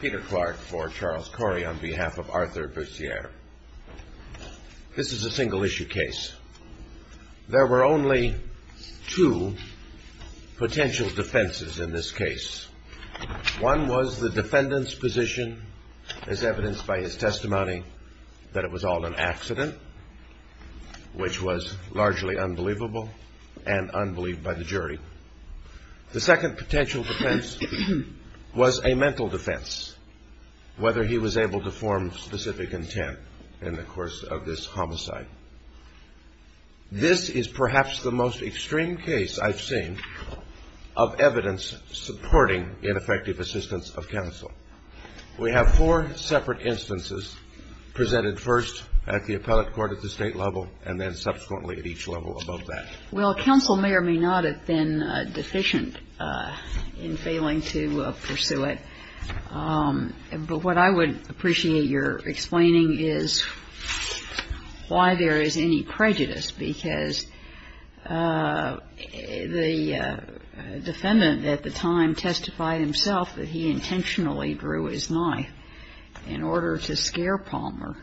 Peter Clark for Charles Corey on behalf of Arthur Bussiere. This is a single-issue case. There were only two potential defenses in this case. One was the defendant's position, as evidenced by his testimony, that it was all an accident, which was largely unbelievable and unbelieved by the jury. The second potential defense was a mental defense, whether he was able to form specific intent in the course of this homicide. This is perhaps the most extreme case I've seen of evidence supporting ineffective assistance of counsel. We have four separate instances presented first at the appellate court at the State level and then subsequently at each level above that. Well, counsel may or may not have been deficient in failing to pursue it. But what I would appreciate your explaining is why there is any prejudice, because the defendant at the time testified himself that he intentionally drew his knife in order to scare Palmer.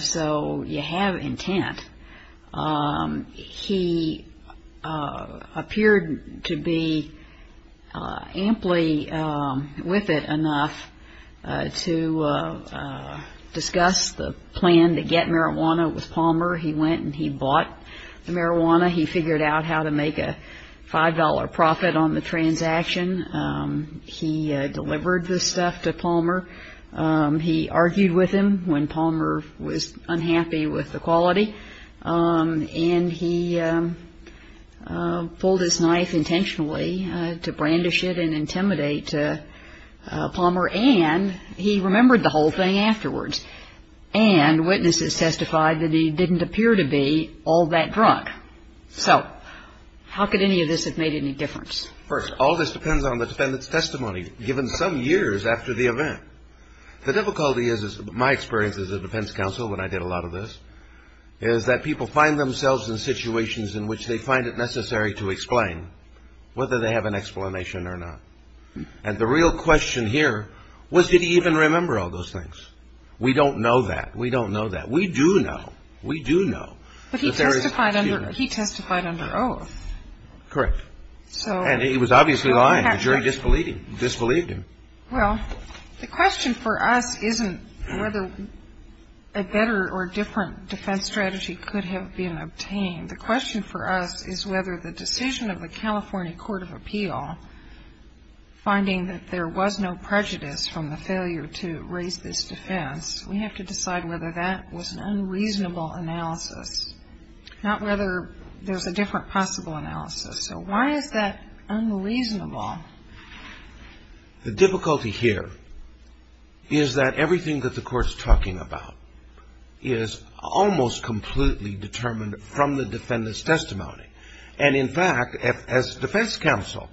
So you have intent. He appeared to be amply with it enough to discuss the plan to get marijuana with Palmer. He went and he bought the marijuana. He figured out how to make a $5 profit on the transaction. He delivered the stuff to Palmer. He argued with him when Palmer was unhappy with the quality. And he pulled his knife intentionally to brandish it and intimidate Palmer. And he remembered the whole thing afterwards. And witnesses testified that he didn't appear to be all that drunk. So how could any of this have made any difference? First, all this depends on the defendant's testimony given some years after the event. The difficulty is, my experience as a defense counsel when I did a lot of this, is that people find themselves in situations in which they find it necessary to explain whether they have an explanation or not. And the real question here was did he even remember all those things? We don't know that. We don't know that. We do know. We do know. But he testified under oath. Correct. And he was obviously lying. The jury disbelieved him. Well, the question for us isn't whether a better or different defense strategy could have been obtained. The question for us is whether the decision of the California Court of Appeal finding that there was no prejudice from the failure to raise this defense, we have to decide whether that was an unreasonable analysis, not whether there's a different possible analysis. So why is that unreasonable? The difficulty here is that everything that the Court is talking about is almost completely determined from the defendant's testimony. And, in fact, as defense counsel,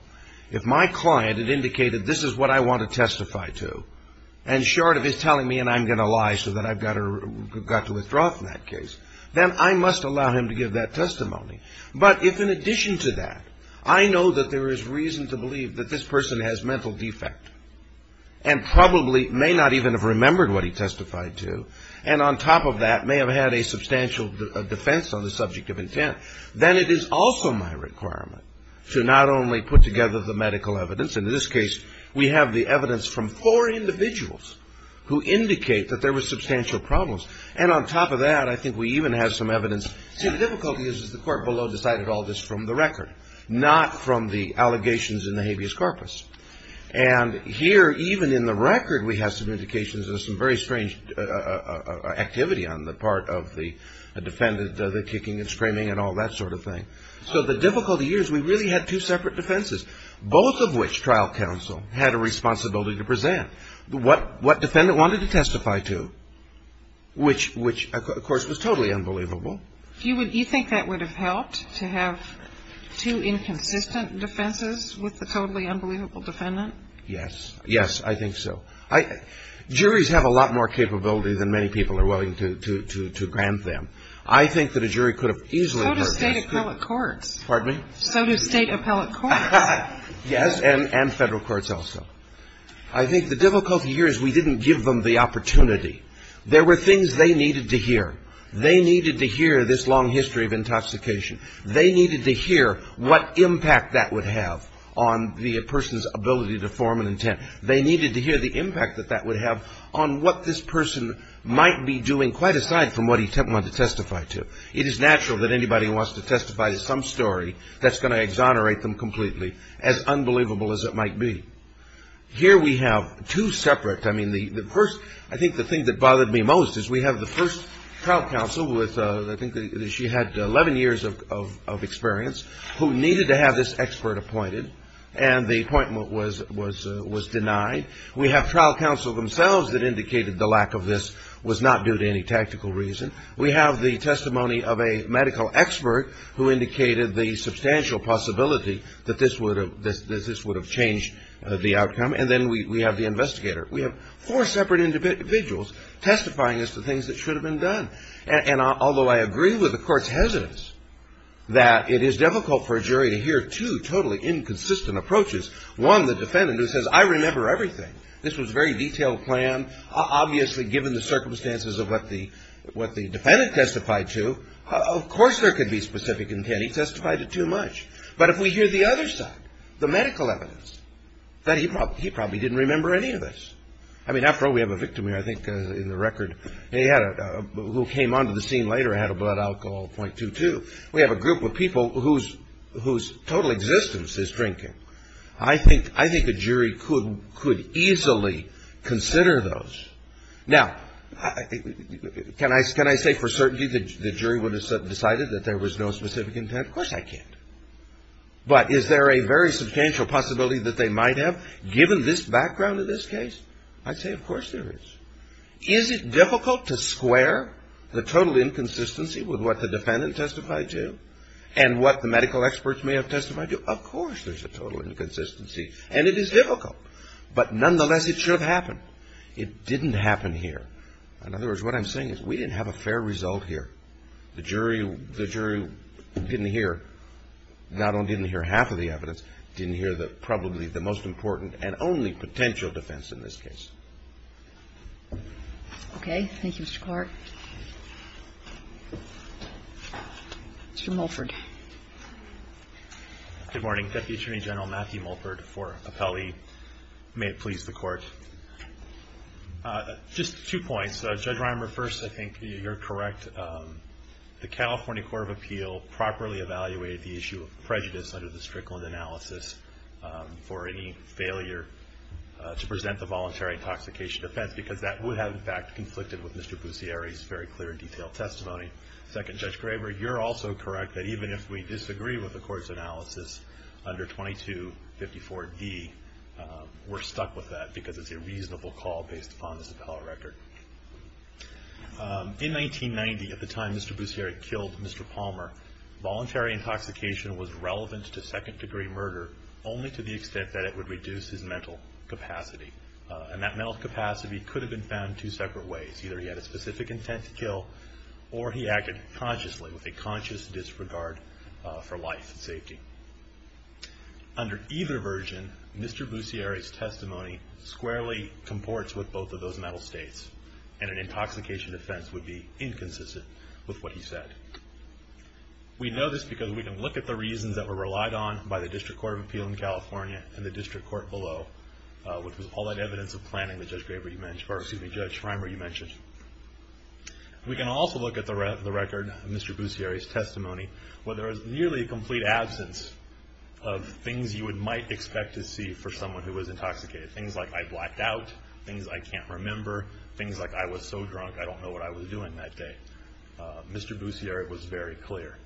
if my client had indicated this is what I want to testify to, and short of his telling me and I'm going to lie so that I've got to withdraw from that case, then I must allow him to give that testimony. But if, in addition to that, I know that there is reason to believe that this person has mental defect and probably may not even have remembered what he testified to, and on top of that may have had a substantial defense on the subject of intent, then it is also my requirement to not only put together the medical evidence. In this case, we have the evidence from four individuals who indicate that there were substantial problems. And on top of that, I think we even have some evidence. See, the difficulty is the Court below decided all this from the record, not from the allegations in the habeas corpus. And here, even in the record, we have some indications of some very strange activity on the part of the defendant, the kicking and screaming and all that sort of thing. So the difficulty here is we really had two separate defenses, both of which trial counsel had a responsibility to present. What defendant wanted to testify to, which, of course, was totally unbelievable. Do you think that would have helped to have two inconsistent defenses with the totally unbelievable defendant? Yes. Yes, I think so. Juries have a lot more capability than many people are willing to grant them. I think that a jury could have easily heard this. So do state appellate courts. Pardon me? So do state appellate courts. Yes, and federal courts also. I think the difficulty here is we didn't give them the opportunity. There were things they needed to hear. They needed to hear this long history of intoxication. They needed to hear what impact that would have on the person's ability to form an intent. They needed to hear the impact that that would have on what this person might be doing, quite aside from what he might want to testify to. It is natural that anybody who wants to testify to some story, that's going to exonerate them completely, as unbelievable as it might be. Here we have two separate. I mean, the first, I think the thing that bothered me most is we have the first trial counsel with, I think she had 11 years of experience, who needed to have this expert appointed, and the appointment was denied. We have trial counsel themselves that indicated the lack of this was not due to any tactical reason. We have the testimony of a medical expert who indicated the substantial possibility that this would have changed the outcome, and then we have the investigator. We have four separate individuals testifying as to things that should have been done. And although I agree with the court's hesitance that it is difficult for a jury to hear two totally inconsistent approaches, one, the defendant who says, I remember everything. This was a very detailed plan. Obviously, given the circumstances of what the defendant testified to, of course there could be specific intent. He testified to too much. But if we hear the other side, the medical evidence, that he probably didn't remember any of this. I mean, after all, we have a victim here, I think, in the record, who came onto the scene later and had a blood alcohol of 0.22. We have a group of people whose total existence is drinking. I think a jury could easily consider those. Now, can I say for certainty the jury would have decided that there was no specific intent? Of course I can't. But is there a very substantial possibility that they might have, given this background of this case? I'd say of course there is. Is it difficult to square the total inconsistency with what the defendant testified to and what the medical experts may have testified to? Of course there's a total inconsistency, and it is difficult. But nonetheless, it should have happened. It didn't happen here. In other words, what I'm saying is we didn't have a fair result here. The jury didn't hear, not only didn't hear half of the evidence, didn't hear probably the most important and only potential defense in this case. Okay. Thank you, Mr. Clark. Mr. Mulford. Good morning. Deputy Attorney General Matthew Mulford for Appelli. May it please the Court. Just two points. Judge Reimer, first, I think you're correct. The California Court of Appeal properly evaluated the issue of prejudice under the Strickland analysis for any failure to present the voluntary intoxication offense, because that would have, in fact, conflicted with Mr. Busieri's very clear and detailed testimony. Second, Judge Graber, you're also correct that even if we disagree with the Court's analysis under 2254D, we're stuck with that because it's a reasonable call based upon this appellate record. In 1990, at the time Mr. Busieri killed Mr. Palmer, voluntary intoxication was relevant to second-degree murder, only to the extent that it would reduce his mental capacity. And that mental capacity could have been found two separate ways. Either he had a specific intent to kill, or he acted consciously with a conscious disregard for life and safety. Under either version, Mr. Busieri's testimony squarely comports with both of those mental states, and an intoxication offense would be inconsistent with what he said. We know this because we can look at the reasons that were relied on by the District Court of Appeal in California and the District Court below, which was all that evidence of planning that Judge Graber, or excuse me, Judge Reimer, you mentioned. We can also look at the record of Mr. Busieri's testimony, where there is nearly a complete absence of things you might expect to see for someone who was intoxicated. Things like I blacked out, things I can't remember, things like I was so drunk I don't know what I was doing that day. Mr. Busieri was very clear.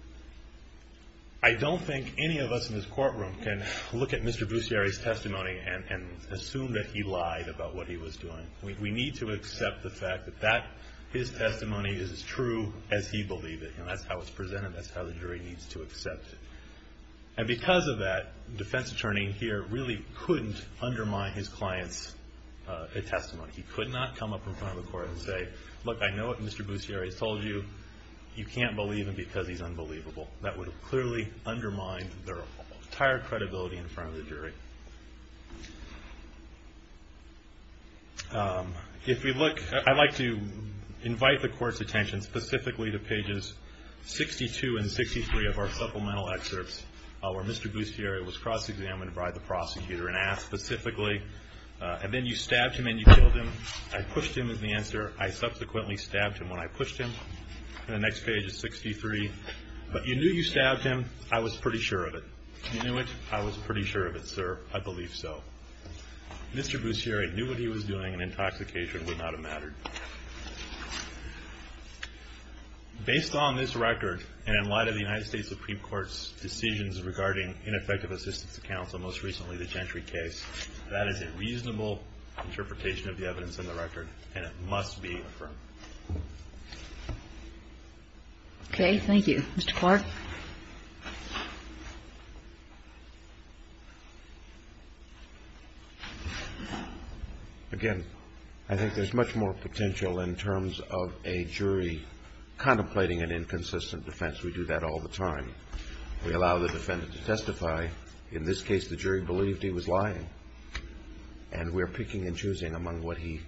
I don't think any of us in this courtroom can look at Mr. Busieri's testimony and assume that he lied about what he was doing. We need to accept the fact that his testimony is as true as he believed it. That's how it's presented. That's how the jury needs to accept it. Because of that, the defense attorney here really couldn't undermine his client's testimony. He could not come up in front of the court and say, look, I know what Mr. Busieri has told you, you can't believe him because he's unbelievable. That would clearly undermine their entire credibility in front of the jury. I'd like to invite the court's attention specifically to pages 62 and 63 of our supplemental excerpts, where Mr. Busieri was cross-examined by the prosecutor and asked specifically, and then you stabbed him and you killed him. I pushed him is the answer. I subsequently stabbed him when I pushed him. And the next page is 63. But you knew you stabbed him. I was pretty sure of it. You knew it. I was pretty sure of it, sir. I believe so. Mr. Busieri knew what he was doing, and intoxication would not have mattered. Based on this record and in light of the United States Supreme Court's decisions regarding ineffective assistance to counsel, most recently the Gentry case, that is a reasonable interpretation of the evidence in the record, and it must be affirmed. Okay. Thank you. Mr. Clark? Again, I think there's much more potential in terms of a jury contemplating an inconsistent defense. We do that all the time. We allow the defendant to testify. In this case, the jury believed he was lying. And we're picking and choosing among what he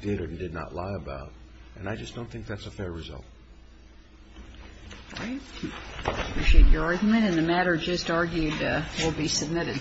did or did not lie about, and I just don't think that's a fair result. All right. We appreciate your argument. And the matter just argued will be submitted.